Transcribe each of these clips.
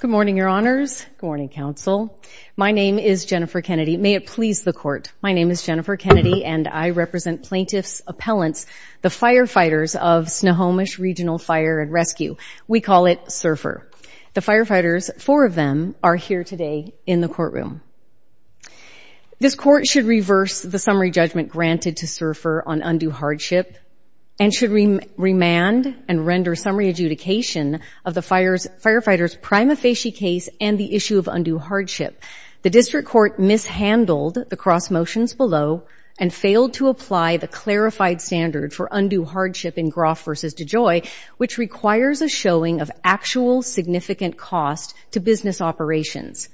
Good morning, Your Honors. Good morning, Counsel. My name is Jennifer Kennedy. May it please the Court, my name is Jennifer Kennedy and I represent plaintiffs' appellants, the firefighters of Snohomish Regional Fire and Rescue. We call it SURFR. The firefighters, four of them, are here today in the courtroom. This Court should reverse the summary judgment granted to SURFR on undue hardship and should remand and render summary adjudication of the firefighters' prima facie case and the issue of undue hardship. The District Court mishandled the cross motions below and failed to apply the clarified standard for undue hardship in Groff v. DeJoy, which requires a showing of actual significant cost to business operations.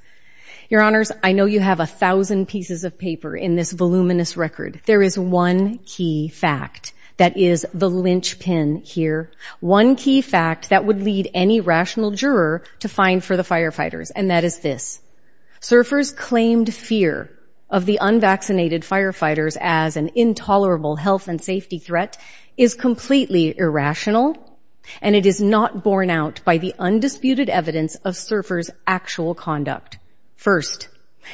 Your Honors, I know you have a thousand pieces of paper in this voluminous record. There is one key fact that is the linchpin here, one key fact that would lead any rational juror to fine for the firefighters, and that is this. SURFR's claimed fear of the unvaccinated firefighters as an intolerable health and safety threat is completely irrational and it is not borne out by the undisputed evidence of SURFR's actual conduct. First,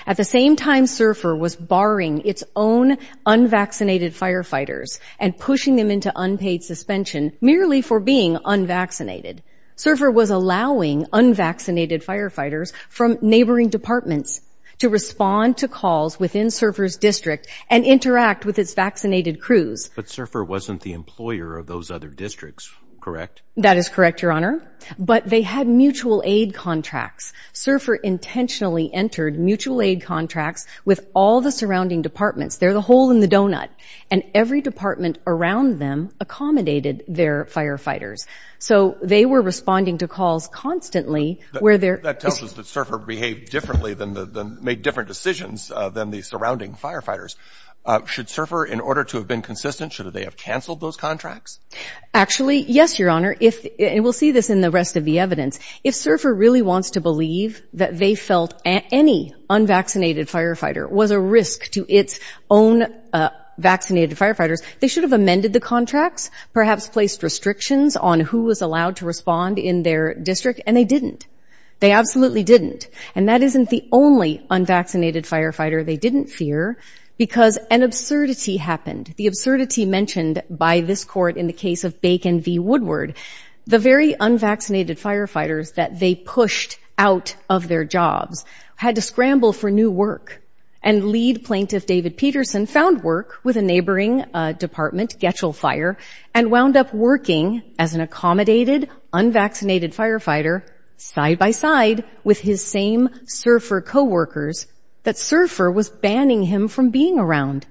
at the same time SURFR was barring its own unvaccinated firefighters and pushing them into unpaid suspension merely for being unvaccinated, SURFR was allowing unvaccinated firefighters from neighboring departments to respond to calls within SURFR's district and interact with its vaccinated crews. But SURFR wasn't the employer of those other districts, correct? That is correct, Your Honor, but they had mutual aid contracts. SURFR intentionally entered mutual aid contracts with all the surrounding departments. They're the hole in the donut. And every department around them accommodated their firefighters. So they were responding to calls constantly where they're – That tells us that SURFR behaved differently than the – made different decisions than the surrounding firefighters. Should SURFR, in order to have been consistent, should they have canceled those contracts? Actually, yes, Your Honor. If – and we'll see this in the rest of the evidence. If SURFR really wants to believe that they felt any unvaccinated firefighter was a risk to its own vaccinated firefighters, they should have amended the contracts, perhaps placed restrictions on who was allowed to respond in their district, and they didn't. They absolutely didn't. And that isn't the only unvaccinated firefighter they didn't fear, because an absurdity happened. The absurdity mentioned by this court in the case of Bacon v. Woodward. The very unvaccinated firefighters that they pushed out of their jobs had to scramble for new work. And lead plaintiff David Peterson found work with a neighboring department, Getchell Fire, and wound up working as an accommodated, unvaccinated firefighter, side by side with his same SURFR coworkers, that SURFR was banning him from being around.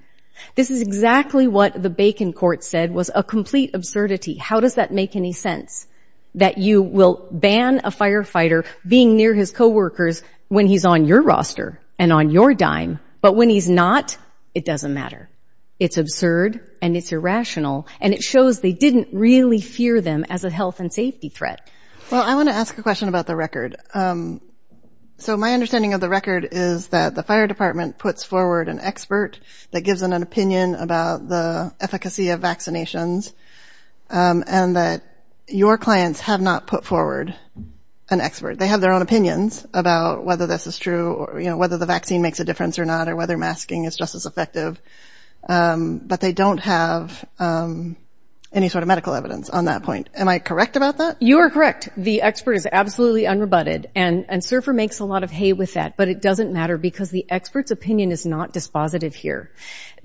This is exactly what the Bacon court said was a complete absurdity. How does that make any sense? That you will ban a firefighter being near his coworkers when he's on your roster and on your dime, but when he's not, it doesn't matter. It's absurd and it's irrational, and it shows they didn't really fear them as a health and safety threat. Well, I want to ask a question about the record. So my understanding of the record is that the fire department puts forward an expert that gives them an opinion about the efficacy of vaccinations and that your clients have not put forward an expert. They have their own opinions about whether this is true or whether the vaccine makes a difference or not or whether masking is just as effective, but they don't have any sort of medical evidence on that point. Am I correct about that? You are correct. The expert is absolutely unrebutted, and SURFR makes a lot of hay with that, but it doesn't matter because the expert's opinion is not dispositive here.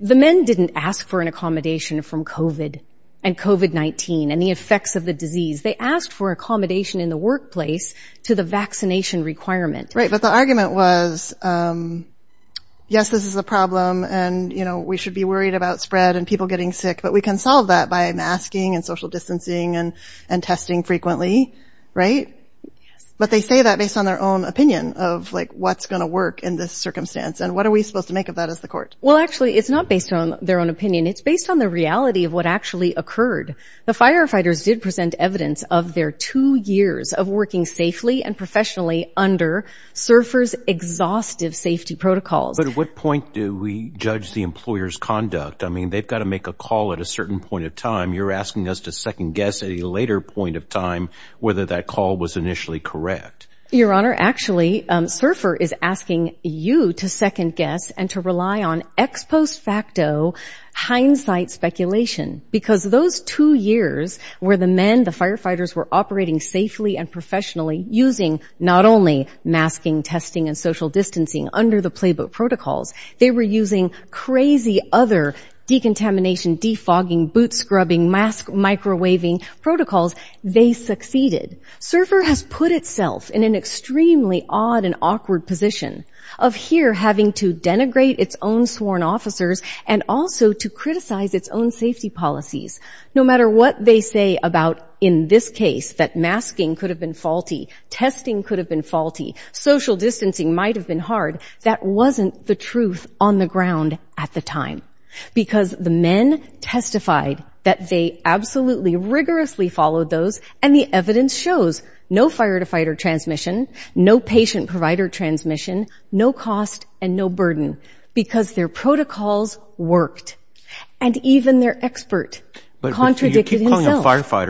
The men didn't ask for an accommodation from COVID and COVID-19 and the effects of the disease. They asked for accommodation in the workplace to the vaccination requirement. Right, but the argument was, yes, this is a problem, and we should be worried about spread and people getting sick, but we can solve that by masking and social distancing and testing frequently, right? Yes. But they say that based on their own opinion of, like, what's going to work in this circumstance, and what are we supposed to make of that as the court? Well, actually, it's not based on their own opinion. It's based on the reality of what actually occurred. The firefighters did present evidence of their two years of working safely and professionally under SURFR's exhaustive safety protocols. But at what point do we judge the employer's conduct? I mean, they've got to make a call at a certain point of time. You're asking us to second-guess at a later point of time whether that call was initially correct. Your Honor, actually, SURFR is asking you to second-guess and to rely on ex post facto hindsight speculation, because those two years where the men, the firefighters, were operating safely and professionally, using not only masking, testing, and social distancing under the playbook protocols, they were using crazy other decontamination, defogging, boot scrubbing, mask microwaving protocols. They succeeded. SURFR has put itself in an extremely odd and awkward position of here having to denigrate its own sworn officers and also to criticize its own safety policies. No matter what they say about, in this case, that masking could have been faulty, testing could have been faulty, social distancing might have been hard, that wasn't the truth on the ground at the time. Because the men testified that they absolutely rigorously followed those, and the evidence shows no fire-to-fighter transmission, no patient-provider transmission, no cost, and no burden, because their protocols worked. And even their expert contradicted himself. But you keep calling them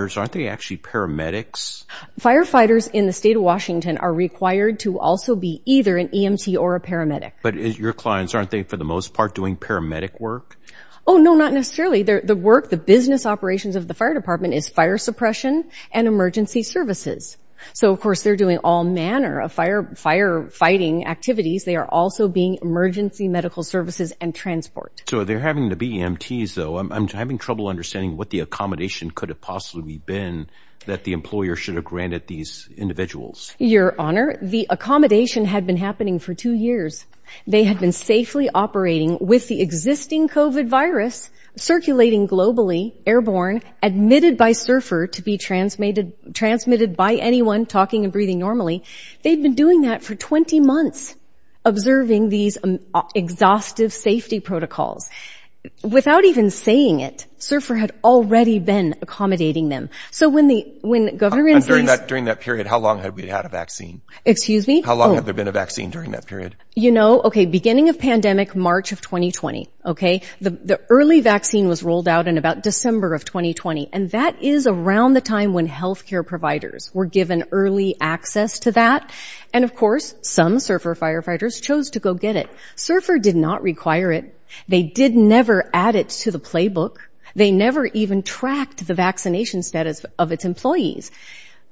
firefighters. Aren't they actually paramedics? Firefighters in the state of Washington are required to also be either an EMT or a paramedic. But your clients, aren't they for the most part doing paramedic work? Oh, no, not necessarily. The work, the business operations of the fire department is fire suppression and emergency services. So, of course, they're doing all manner of firefighting activities. They are also being emergency medical services and transport. So they're having to be EMTs, though. I'm having trouble understanding what the accommodation could have possibly been that the employer should have granted these individuals. Your Honour, the accommodation had been happening for two years. They had been safely operating with the existing COVID virus, circulating globally, airborne, admitted by surfer to be transmitted by anyone talking and breathing normally. They'd been doing that for 20 months, observing these exhaustive safety protocols. Without even saying it, surfer had already been accommodating them. So when the government... And during that period, how long had we had a vaccine? Excuse me? How long had there been a vaccine during that period? You know, okay, beginning of pandemic, March of 2020, okay? The early vaccine was rolled out in about December of 2020. And that is around the time when health care providers were given early access to that. And, of course, some surfer firefighters chose to go get it. Surfer did not require it. They did never add it to the playbook. They never even tracked the vaccination status of its employees.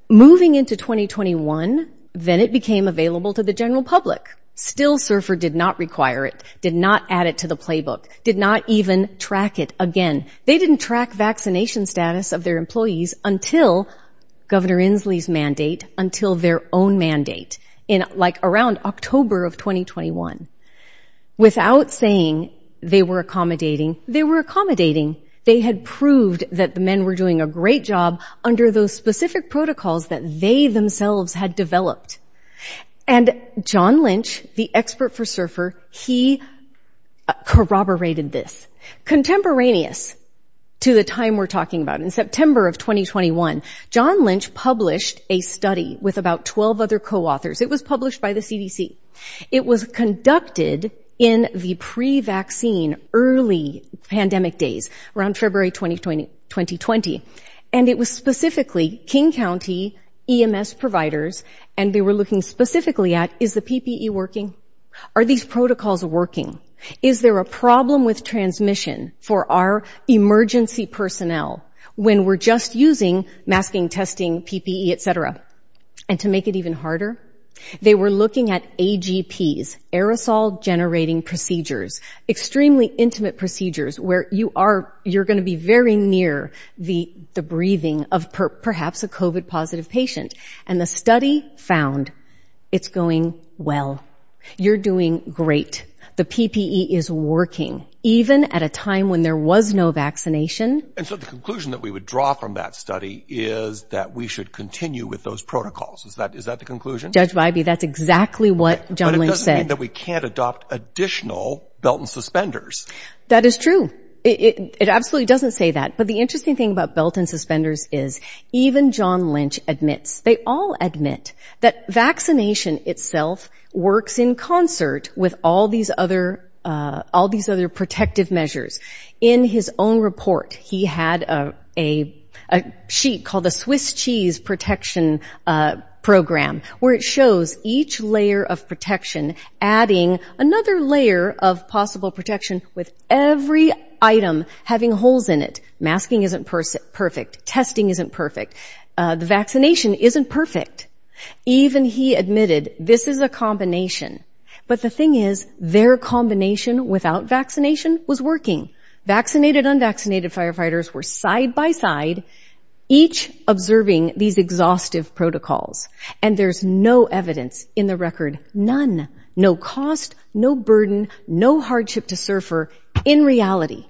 Moving into 2021, then it became available to the general public. Still, surfer did not require it, did not add it to the playbook, did not even track it again. They didn't track vaccination status of their employees until Governor Inslee's mandate, until their own mandate, in, like, around October of 2021. Without saying they were accommodating, they were accommodating. They had proved that the men were doing a great job under those specific protocols that they themselves had developed. And John Lynch, the expert for surfer, he corroborated this. Contemporaneous to the time we're talking about, in September of 2021, John Lynch published a study with about 12 other co-authors. It was published by the CDC. It was conducted in the pre-vaccine, early pandemic days, around February 2020. And it was specifically King County EMS providers, and they were looking specifically at, is the PPE working? Are these protocols working? Is there a problem with transmission for our emergency personnel when we're just using masking, testing, PPE, et cetera? And to make it even harder, they were looking at AGPs, aerosol generating procedures, extremely intimate procedures, where you're going to be very near the breathing of perhaps a COVID-positive patient. And the study found it's going well. You're doing great. The PPE is working, even at a time when there was no vaccination. And so the conclusion that we would draw from that study is that we should continue with those protocols. Is that the conclusion? Judge Wybie, that's exactly what John Lynch said. But it doesn't mean that we can't adopt additional belt and suspenders. That is true. It absolutely doesn't say that. But the interesting thing about belt and suspenders is even John Lynch admits, they all admit, that vaccination itself works in concert with all these other protective measures. In his own report, he had a sheet called the Swiss Cheese Protection Program, where it shows each layer of protection adding another layer of possible protection with every item having holes in it. Masking isn't perfect. Testing isn't perfect. The vaccination isn't perfect. Even he admitted, this is a combination. But the thing is, their combination without vaccination was working. Vaccinated, unvaccinated firefighters were side by side, each observing these exhaustive protocols. And there's no evidence in the record, none, no cost, no burden, no hardship to surfer, in reality.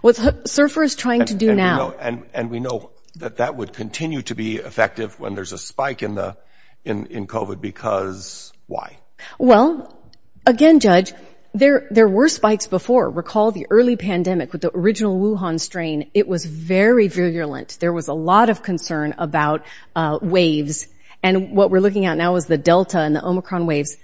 What surfer is trying to do now. And we know that that would continue to be effective when there's a spike in COVID, because why? Well, again, Judge, there were spikes before. Recall the early pandemic with the original Wuhan strain. It was very virulent. There was a lot of concern about waves. And what we're looking at now is the Delta and the Omicron waves.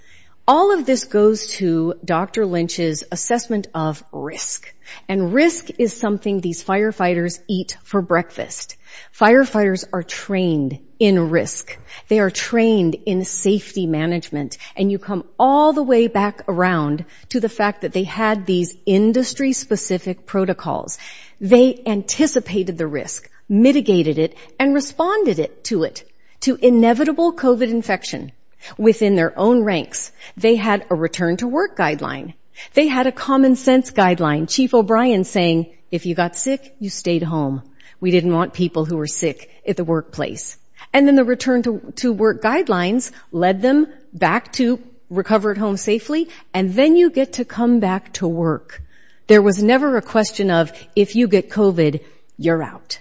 All of this goes to Dr. Lynch's assessment of risk. And risk is something these firefighters eat for breakfast. Firefighters are trained in risk. They are trained in safety management. And you come all the way back around to the fact that they had these industry-specific protocols. They anticipated the risk, mitigated it, and responded to it, to inevitable COVID infection. Within their own ranks, they had a return-to-work guideline. They had a common-sense guideline. Chief O'Brien saying, if you got sick, you stayed home. We didn't want people who were sick at the workplace. And then the return-to-work guidelines led them back to recover at home safely. And then you get to come back to work. There was never a question of, if you get COVID, you're out.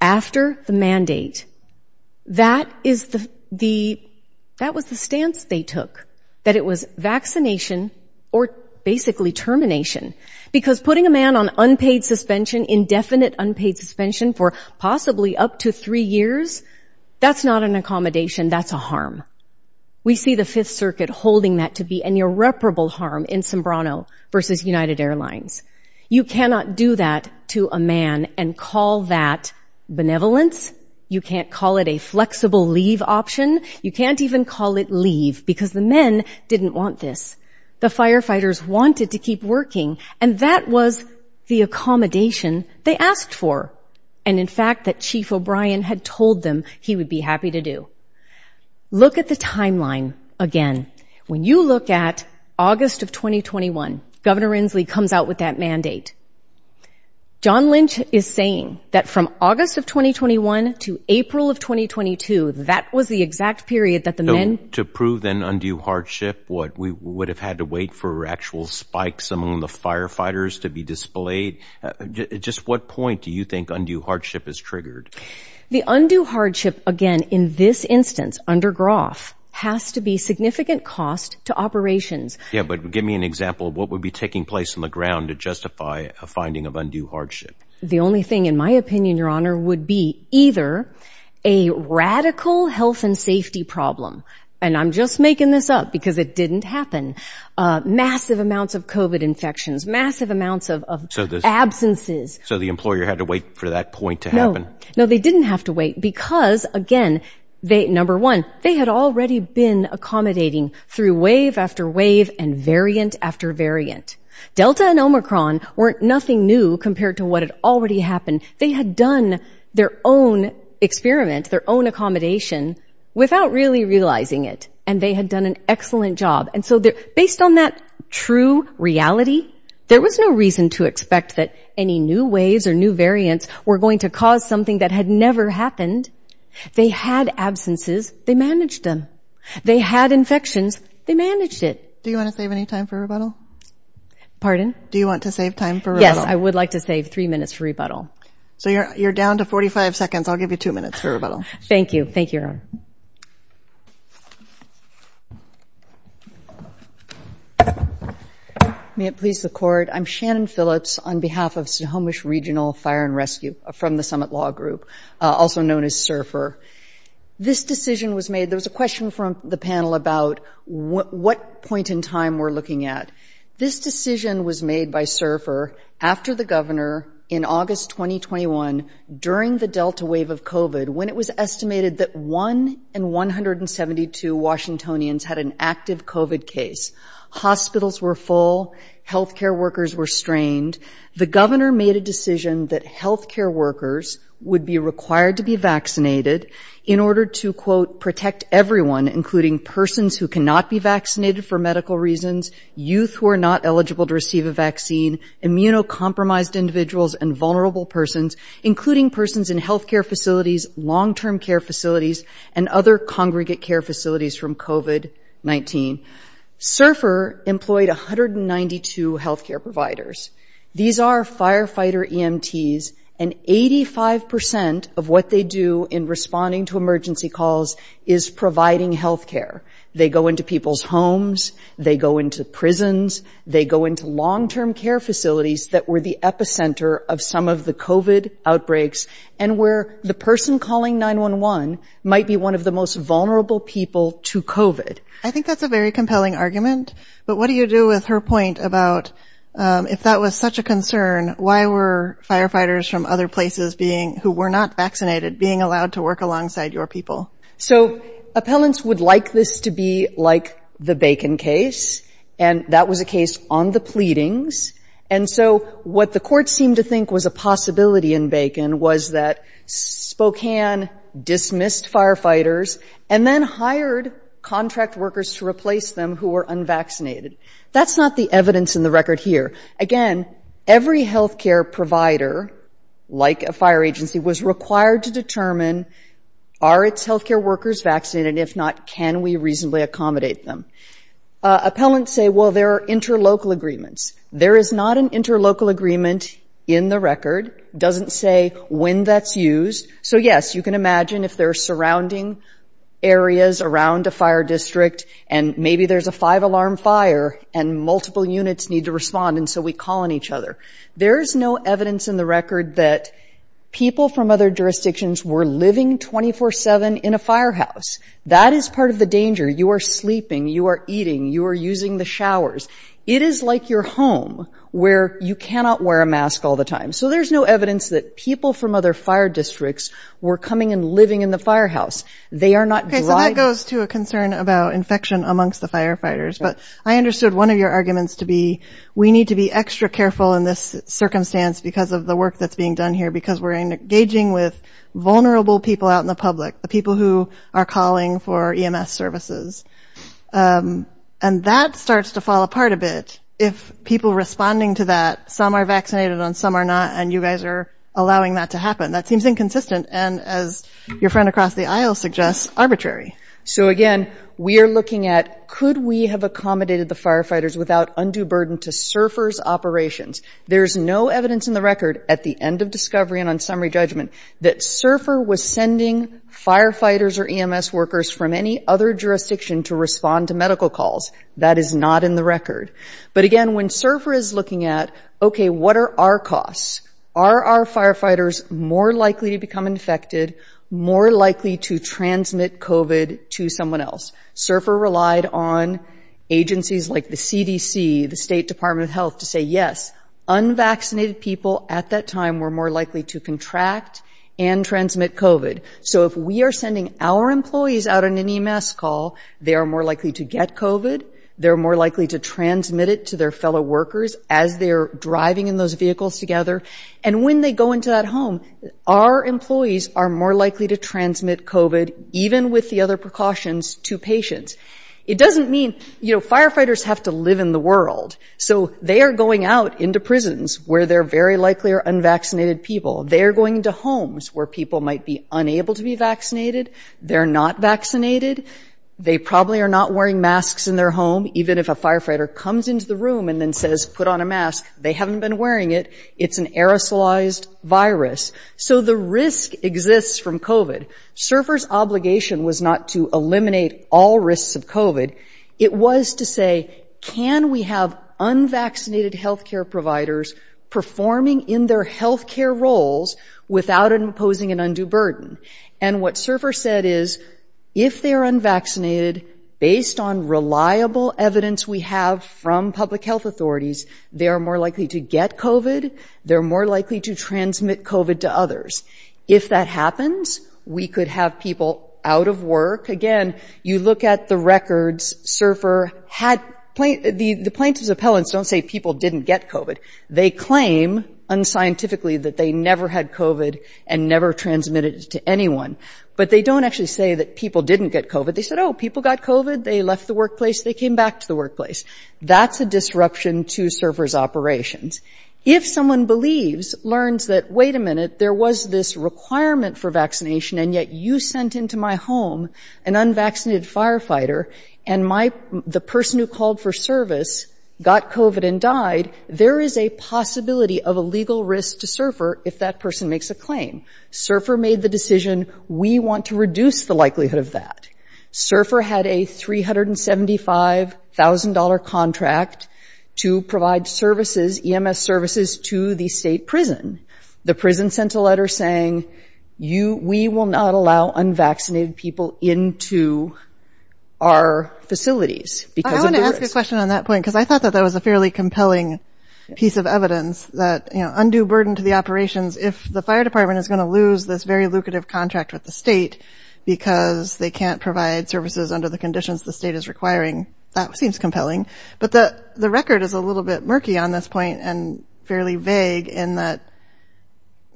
After the mandate, that was the stance they took, that it was vaccination, or basically termination. Because putting a man on unpaid suspension, indefinite unpaid suspension, for possibly up to three years, that's not an accommodation. That's a harm. We see the Fifth Circuit holding that to be an irreparable harm in Sombrano versus United Airlines. You cannot do that to a man and call that benevolence. You can't call it a flexible leave option. You can't even call it leave, because the men didn't want this. The firefighters wanted to keep working. And that was the accommodation they asked for. And in fact, that Chief O'Brien had told them he would be happy to do. Look at the timeline again. When you look at August of 2021, Governor Inslee comes out with that mandate. John Lynch is saying that from August of 2021 to April of 2022, that was the exact period that the men... To prove an undue hardship, we would have had to wait for actual spikes among the firefighters to be displayed. Just what point do you think undue hardship is triggered? The undue hardship, again, in this instance, under Groff, has to be significant cost to operations. Yeah, but give me an example of what would be taking place on the ground to justify a finding of undue hardship. The only thing, in my opinion, Your Honor, would be either a radical health and safety problem, and I'm just making this up because it didn't happen, massive amounts of COVID infections, massive amounts of absences. So the employer had to wait for that point to happen? No, they didn't have to wait because, again, number one, they had already been accommodating through wave after wave and variant after variant. Delta and Omicron weren't nothing new compared to what had already happened. They had done their own experiment, their own accommodation, without really realizing it, and they had done an excellent job. And so based on that true reality, there was no reason to expect that any new waves or new variants were going to cause something that had never happened. They had absences. They managed them. They had infections. They managed it. Do you want to save any time for rebuttal? Pardon? Do you want to save time for rebuttal? Yes, I would like to save three minutes for rebuttal. So you're down to 45 seconds. I'll give you two minutes for rebuttal. Thank you. Thank you, Your Honor. May it please the Court, I'm Shannon Phillips on behalf of Snohomish Regional Fire and Rescue from the Summit Law Group, also known as SURFR. This decision was made... There was a question from the panel about what point in time we're looking at. This decision was made by SURFR after the governor, in August 2021, during the Delta wave of COVID, when it was estimated that 1 in 172 Washingtonians had an active COVID case. Hospitals were full. Health care workers were strained. The governor made a decision that health care workers would be required to be vaccinated in order to, quote, protect everyone, including persons who cannot be vaccinated for medical reasons, youth who are not eligible to receive a vaccine, immunocompromised individuals, and vulnerable persons, including persons in health care facilities, long-term care facilities, and other congregate care facilities from COVID-19. SURFR employed 192 health care providers. These are firefighter EMTs, and 85% of what they do in responding to emergency calls is providing health care. They go into people's homes. They go into prisons. They go into long-term care facilities that were the epicenter of some of the COVID outbreaks and where the person calling 911 might be one of the most vulnerable people to COVID. I think that's a very compelling argument, but what do you do with her point about if that was such a concern, why were firefighters from other places being, who were not vaccinated, being allowed to work alongside your people? So appellants would like this to be like the Bacon case, and that was a case on the pleadings. And so what the court seemed to think was a possibility in Bacon was that Spokane dismissed firefighters and then hired contract workers to replace them who were unvaccinated. That's not the evidence in the record here. Again, every health care provider, like a fire agency, was required to determine, are its health care workers vaccinated? If not, can we reasonably accommodate them? Appellants say, well, there are interlocal agreements. There is not an interlocal agreement in the record. It doesn't say when that's used. So, yes, you can imagine if there are surrounding areas around a fire district and maybe there's a five-alarm fire and multiple units need to respond, and so we call on each other. There is no evidence in the record that people from other jurisdictions were living 24-7 in a firehouse. That is part of the danger. You are sleeping, you are eating, you are using the showers. It is like your home, where you cannot wear a mask all the time. So there's no evidence that people from other fire districts were coming and living in the firehouse. They are not driving. So that goes to a concern about infection amongst the firefighters. But I understood one of your arguments to be we need to be extra careful in this circumstance because of the work that's being done here because we're engaging with vulnerable people out in the public, the people who are calling for EMS services. And that starts to fall apart a bit if people responding to that, some are vaccinated and some are not, and you guys are allowing that to happen. That seems inconsistent and as your friend across the aisle suggests, arbitrary. So again, we are looking at could we have accommodated the firefighters without undue burden to SURFR's operations? There's no evidence in the record at the end of discovery and on summary judgment that SURFR was sending firefighters or EMS workers from any other jurisdiction to respond to medical calls. That is not in the record. But again, when SURFR is looking at okay, what are our costs? Are our firefighters more likely to become infected, more likely to transmit COVID to someone else? SURFR relied on agencies like the CDC, the State Department of Health to say yes, unvaccinated people at that time were more likely to contract and transmit COVID. So if we are sending our employees out on an EMS call, they are more likely to get COVID, they're more likely to transmit it to their fellow workers as they're driving in those vehicles together. And when they go into that home, our employees are more likely to transmit COVID even with the other precautions to patients. It doesn't mean, you know, firefighters have to live in the world. So they are going out into prisons where they're very likely are unvaccinated people. They are going into homes where people might be unable to be vaccinated. They're not vaccinated. They probably are not wearing masks in their home even if a firefighter comes into the room and then says, put on a mask, they haven't been wearing it. It's an aerosolized virus. So the risk exists from COVID. SURFR's obligation was not to eliminate all risks of COVID. It was to say, can we have unvaccinated healthcare providers performing in their healthcare roles without imposing an undue burden? And what SURFR said is, if they are unvaccinated, based on reliable evidence we have from public health authorities, they are more likely to get COVID. They're more likely to transmit COVID to others. If that happens, we could have people out of work. Again, you look at the records. SURFR had plaintiffs' appellants don't say people didn't get COVID. They claim, unscientifically, that they never had COVID and never transmitted it to anyone. But they don't actually say that people didn't get COVID. They said, oh, people got COVID, they left the workplace, they came back to the workplace. That's a disruption to SURFR's operations. If someone believes, learns that, wait a minute, there was this requirement for vaccination and yet you sent into my home an unvaccinated firefighter and the person who called for service got COVID and died, there is a possibility of a legal risk to SURFR if that person makes a claim. SURFR made the decision, we want to reduce the likelihood of that. SURFR had a $375,000 contract to provide services, EMS services, to the state prison. The prison sent a letter saying, we will not allow unvaccinated people into our facilities. I want to ask a question on that point because I thought that was a fairly compelling piece of evidence that undue burden to the operations. If the fire department is going to lose this very lucrative contract with the state because they can't provide services under the conditions the state is requiring, that seems compelling. But the record is a little bit murky on this point and fairly vague in that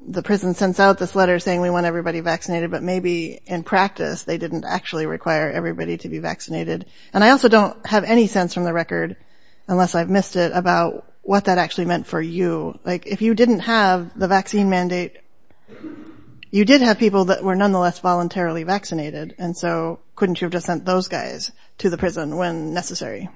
the prison sends out this letter saying, we want everybody vaccinated, but maybe in practice, they didn't actually require everybody to be vaccinated. And I also don't have any sense from the record, unless I've missed it, about what that actually meant for you. Like, if you didn't have the vaccine mandate, you did have people that were nonetheless voluntarily vaccinated. And so couldn't you have just sent those guys to the prison when necessary?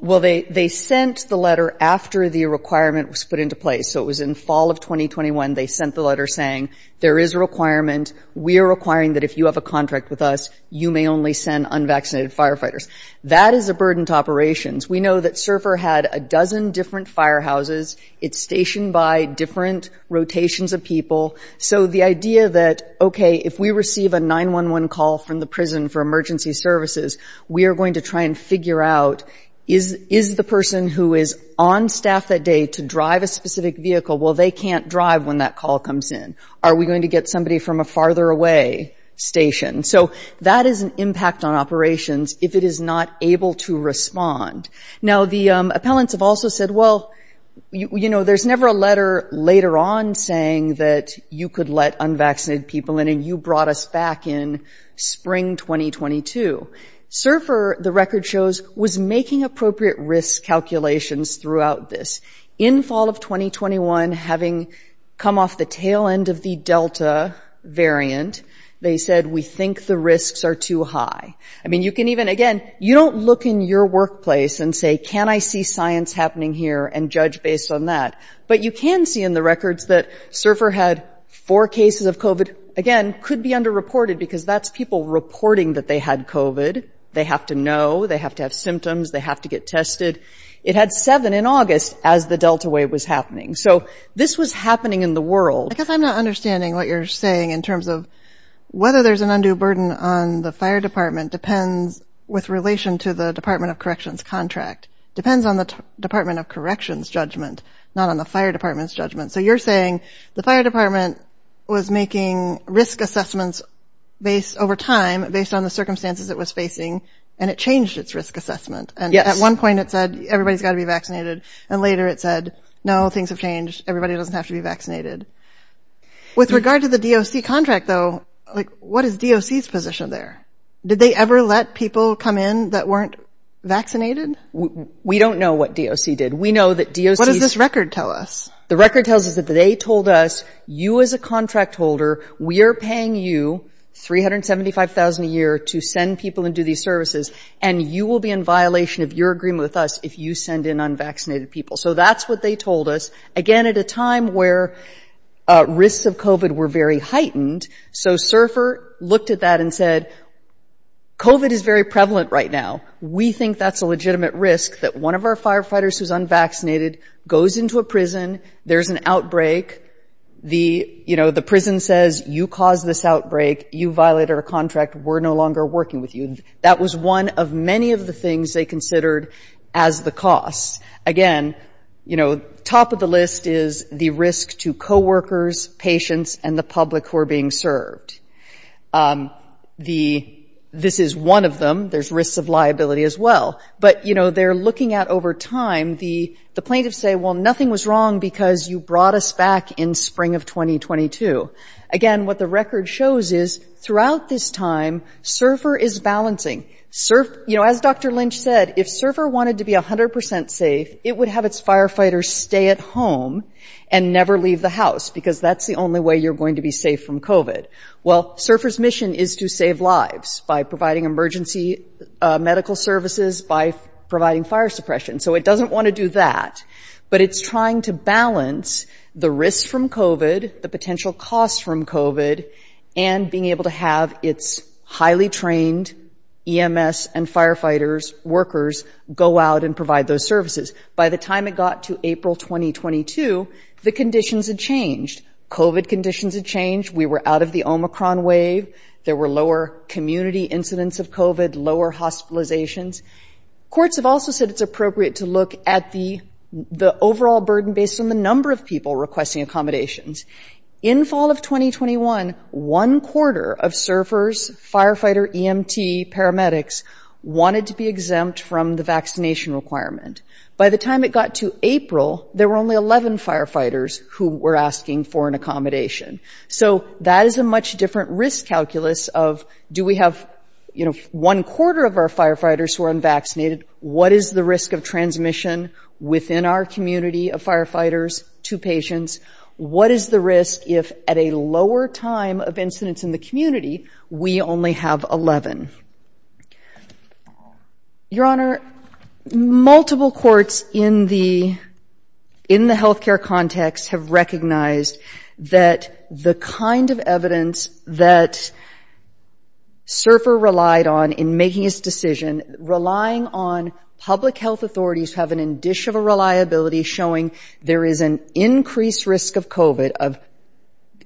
Well, they sent the letter after the requirement was put into place. So it was in fall of 2021. They sent the letter saying, there is a requirement. We are requiring that if you have a contract with us, you may only send unvaccinated firefighters. That is a burden to operations. We know that SURFR had a dozen different firehouses. It's stationed by different rotations of people. So the idea that, okay, if we receive a 911 call from the prison for emergency services, we are going to try and figure out, is the person who is on staff that day to drive a specific vehicle, well, they can't drive when that call comes in. Are we going to get somebody from a farther away station? So that is an impact on operations if it is not able to respond. Now, the appellants have also said, well, you know, there is never a letter later on saying that you could let unvaccinated people in and you brought us back in spring 2022. SURFR, the record shows, was making appropriate risk calculations throughout this. In fall of 2021, having come off the tail end of the Delta variant, they said, we think the risks are too high. I mean, you can even, again, you don't look in your workplace and say, can I see science happening here and judge based on that? But you can see in the records that SURFR had four cases of COVID. Again, could be underreported because that's people reporting that they had COVID. They have to know, they have to have symptoms, they have to get tested. It had seven in August as the Delta wave was happening. So this was happening in the world. I guess I'm not understanding what you're saying in terms of whether there's an undue burden on the fire department depends with relation to the Department of Corrections contract. Depends on the Department of Corrections judgment, not on the fire department's judgment. So you're saying the fire department was making risk assessments over time based on the circumstances it was facing and it changed its risk assessment. And at one point it said, everybody's got to be vaccinated. And later it said, no, things have changed. Everybody doesn't have to be vaccinated. With regard to the DOC contract though, like what is DOC's position there? Did they ever let people come in that weren't vaccinated? We don't know what DOC did. What does this record tell us? The record tells us that they told us, you as a contract holder, we are paying you $375,000 a year to send people and do these services and you will be in violation of your agreement with us if you send in unvaccinated people. So that's what they told us. Again, at a time where risks of COVID were very heightened. So Surfer looked at that and said, COVID is very prevalent right now. We think that's a legitimate risk that one of our firefighters who's unvaccinated goes into a prison, there's an outbreak, the prison says, you caused this outbreak, you violated our contract, we're no longer working with you. That was one of many of the things they considered as the cost. Again, top of the list is the risk to coworkers, patients, and the public who are being served. This is one of them. There's risks of liability as well. But they're looking at over time, the plaintiffs say, well, nothing was wrong because you brought us back in spring of 2022. Again, what the record shows is throughout this time, Surfer is balancing. As Dr. Lynch said, if Surfer wanted to be 100% safe, it would have its firefighters stay at home and never leave the house, because that's the only way you're going to be safe from COVID. Well, Surfer's mission is to save lives by providing emergency medical services, by providing fire suppression. So it doesn't want to do that. But it's trying to balance the risks from COVID, the potential costs from COVID, and being able to have its highly trained EMS and firefighters, workers, go out and provide those services. By the time it got to April 2022, the conditions had changed. COVID conditions had changed. We were out of the Omicron wave. There were lower community incidents of COVID, lower hospitalizations. Courts have also said it's appropriate to look at the overall burden based on the number of people requesting accommodations. In fall of 2021, one quarter of Surfer's firefighter EMT paramedics wanted to be exempt from the vaccination requirement. By the time it got to April, there were only 11 firefighters who were asking for an accommodation. So that is a much different risk calculus of, do we have one quarter of our firefighters who are unvaccinated? What is the risk of transmission within our community of firefighters to patients? What is the risk if at a lower time of incidents in the community, we only have 11? Your Honor, multiple courts in the, in the health care context have recognized that the kind of evidence that Surfer relied on in making his decision, relying on public health authorities have an indish of a reliability showing there is an increased risk of COVID,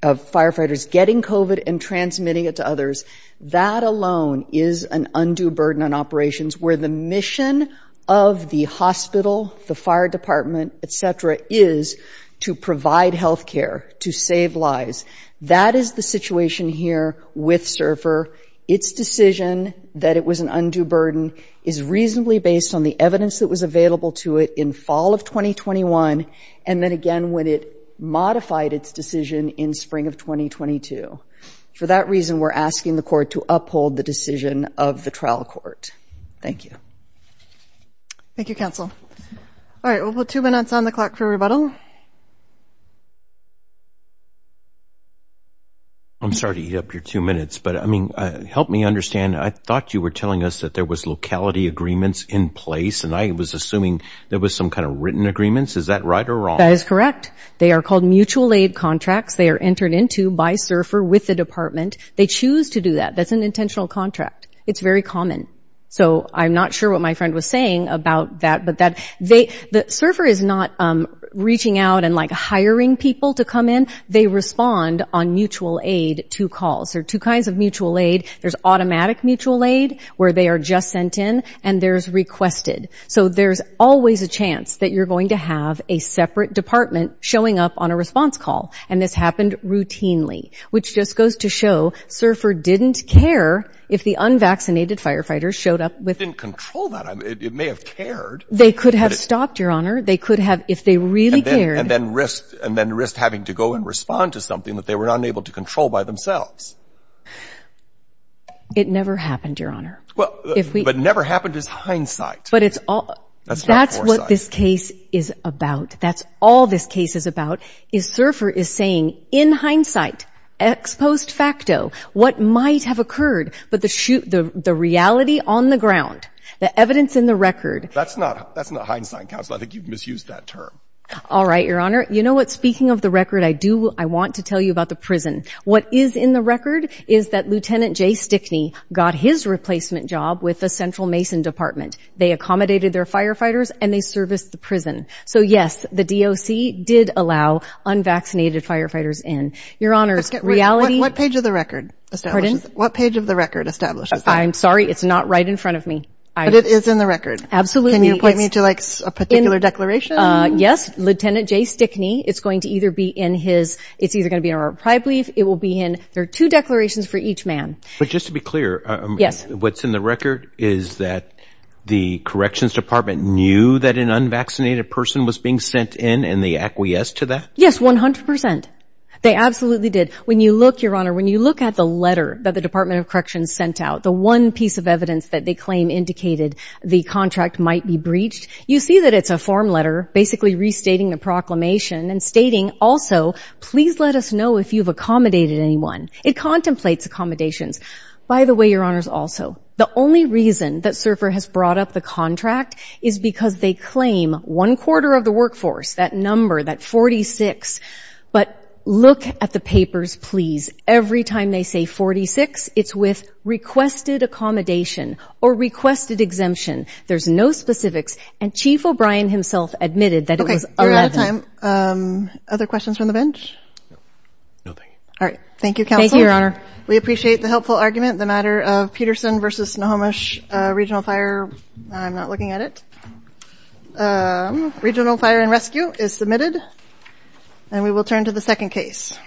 of firefighters getting COVID and transmitting it to others. That alone is an undue burden on operations where the mission of the hospital, the fire department, et cetera, is to provide healthcare, to save lives. That is the situation here with Surfer. It's decision that it was an undue burden is reasonably based on the evidence that was available to it in fall of 2021. And then again, when it modified its decision in spring of 2022, for that reason, we're asking the court to uphold the decision of the trial court. Thank you. Thank you, counsel. All right. We'll put two minutes on the clock for rebuttal. I'm sorry to eat up your two minutes, but I mean, help me understand. I thought you were telling us that there was locality agreements in place and I was assuming there was some kind of written agreements. Is that right? Or wrong? That is correct. They are called mutual aid contracts. They are entered into by Surfer with the department. They choose to do that. That's an intentional contract. It's very common. So I'm not sure what my friend was saying about that. But Surfer is not reaching out and, like, hiring people to come in. They respond on mutual aid to calls. There are two kinds of mutual aid. There's automatic mutual aid where they are just sent in, and there's requested. So there's always a chance that you're going to have a separate department showing up on a response call. And this happened routinely, which just goes to show Surfer didn't care if the unvaccinated firefighters showed up. It didn't control that. It may have cared. They could have stopped, Your Honor. They could have, if they really cared. And then risked having to go and respond to something that they were unable to control by themselves. It never happened, Your Honor. But never happened is hindsight. That's what this case is about. That's all this case is about. Is Surfer is saying, in hindsight, ex post facto, what might have occurred, but the reality on the ground, the evidence in the record. That's not hindsight, counsel. I think you've misused that term. All right, Your Honor. You know what? Speaking of the record, I do want to tell you about the prison. What is in the record is that Lieutenant Jay Stickney got his replacement job with the Central Mason Department. They accommodated their firefighters, and they serviced the prison. So, yes, the DOC did allow unvaccinated firefighters in. Your Honors, reality. What page of the record establishes that? I'm sorry. It's not right in front of me. But it is in the record. Absolutely. Can you point me to, like, a particular declaration? Yes. Lieutenant Jay Stickney. It's going to either be in his. It's either going to be in a reprieve brief. It will be in. There are two declarations for each man. But just to be clear, what's in the record is that the corrections department knew that an unvaccinated person was being sent in, and they acquiesced to that? Yes, 100%. They absolutely did. When you look, Your Honor, when you look at the letter that the Department of Corrections sent out, the one piece of evidence that they claim indicated the contract might be breached, you see that it's a form letter basically restating the proclamation and stating, also, please let us know if you've accommodated anyone. It contemplates accommodations. By the way, Your Honors, also, the only reason that Surfer has brought up the contract is because they claim one quarter of the workforce, that number, that 46. But look at the papers, please. Every time they say 46, it's with requested accommodation or requested exemption. There's no specifics. And Chief O'Brien himself admitted that it was 11. You're out of time. Other questions from the bench? No, thank you. All right. Thank you, Counsel. Thank you, Your Honor. We appreciate the helpful argument. The matter of Peterson v. Nahomish Regional Fire. I'm not looking at it. Regional Fire and Rescue is submitted. And we will turn to the second case.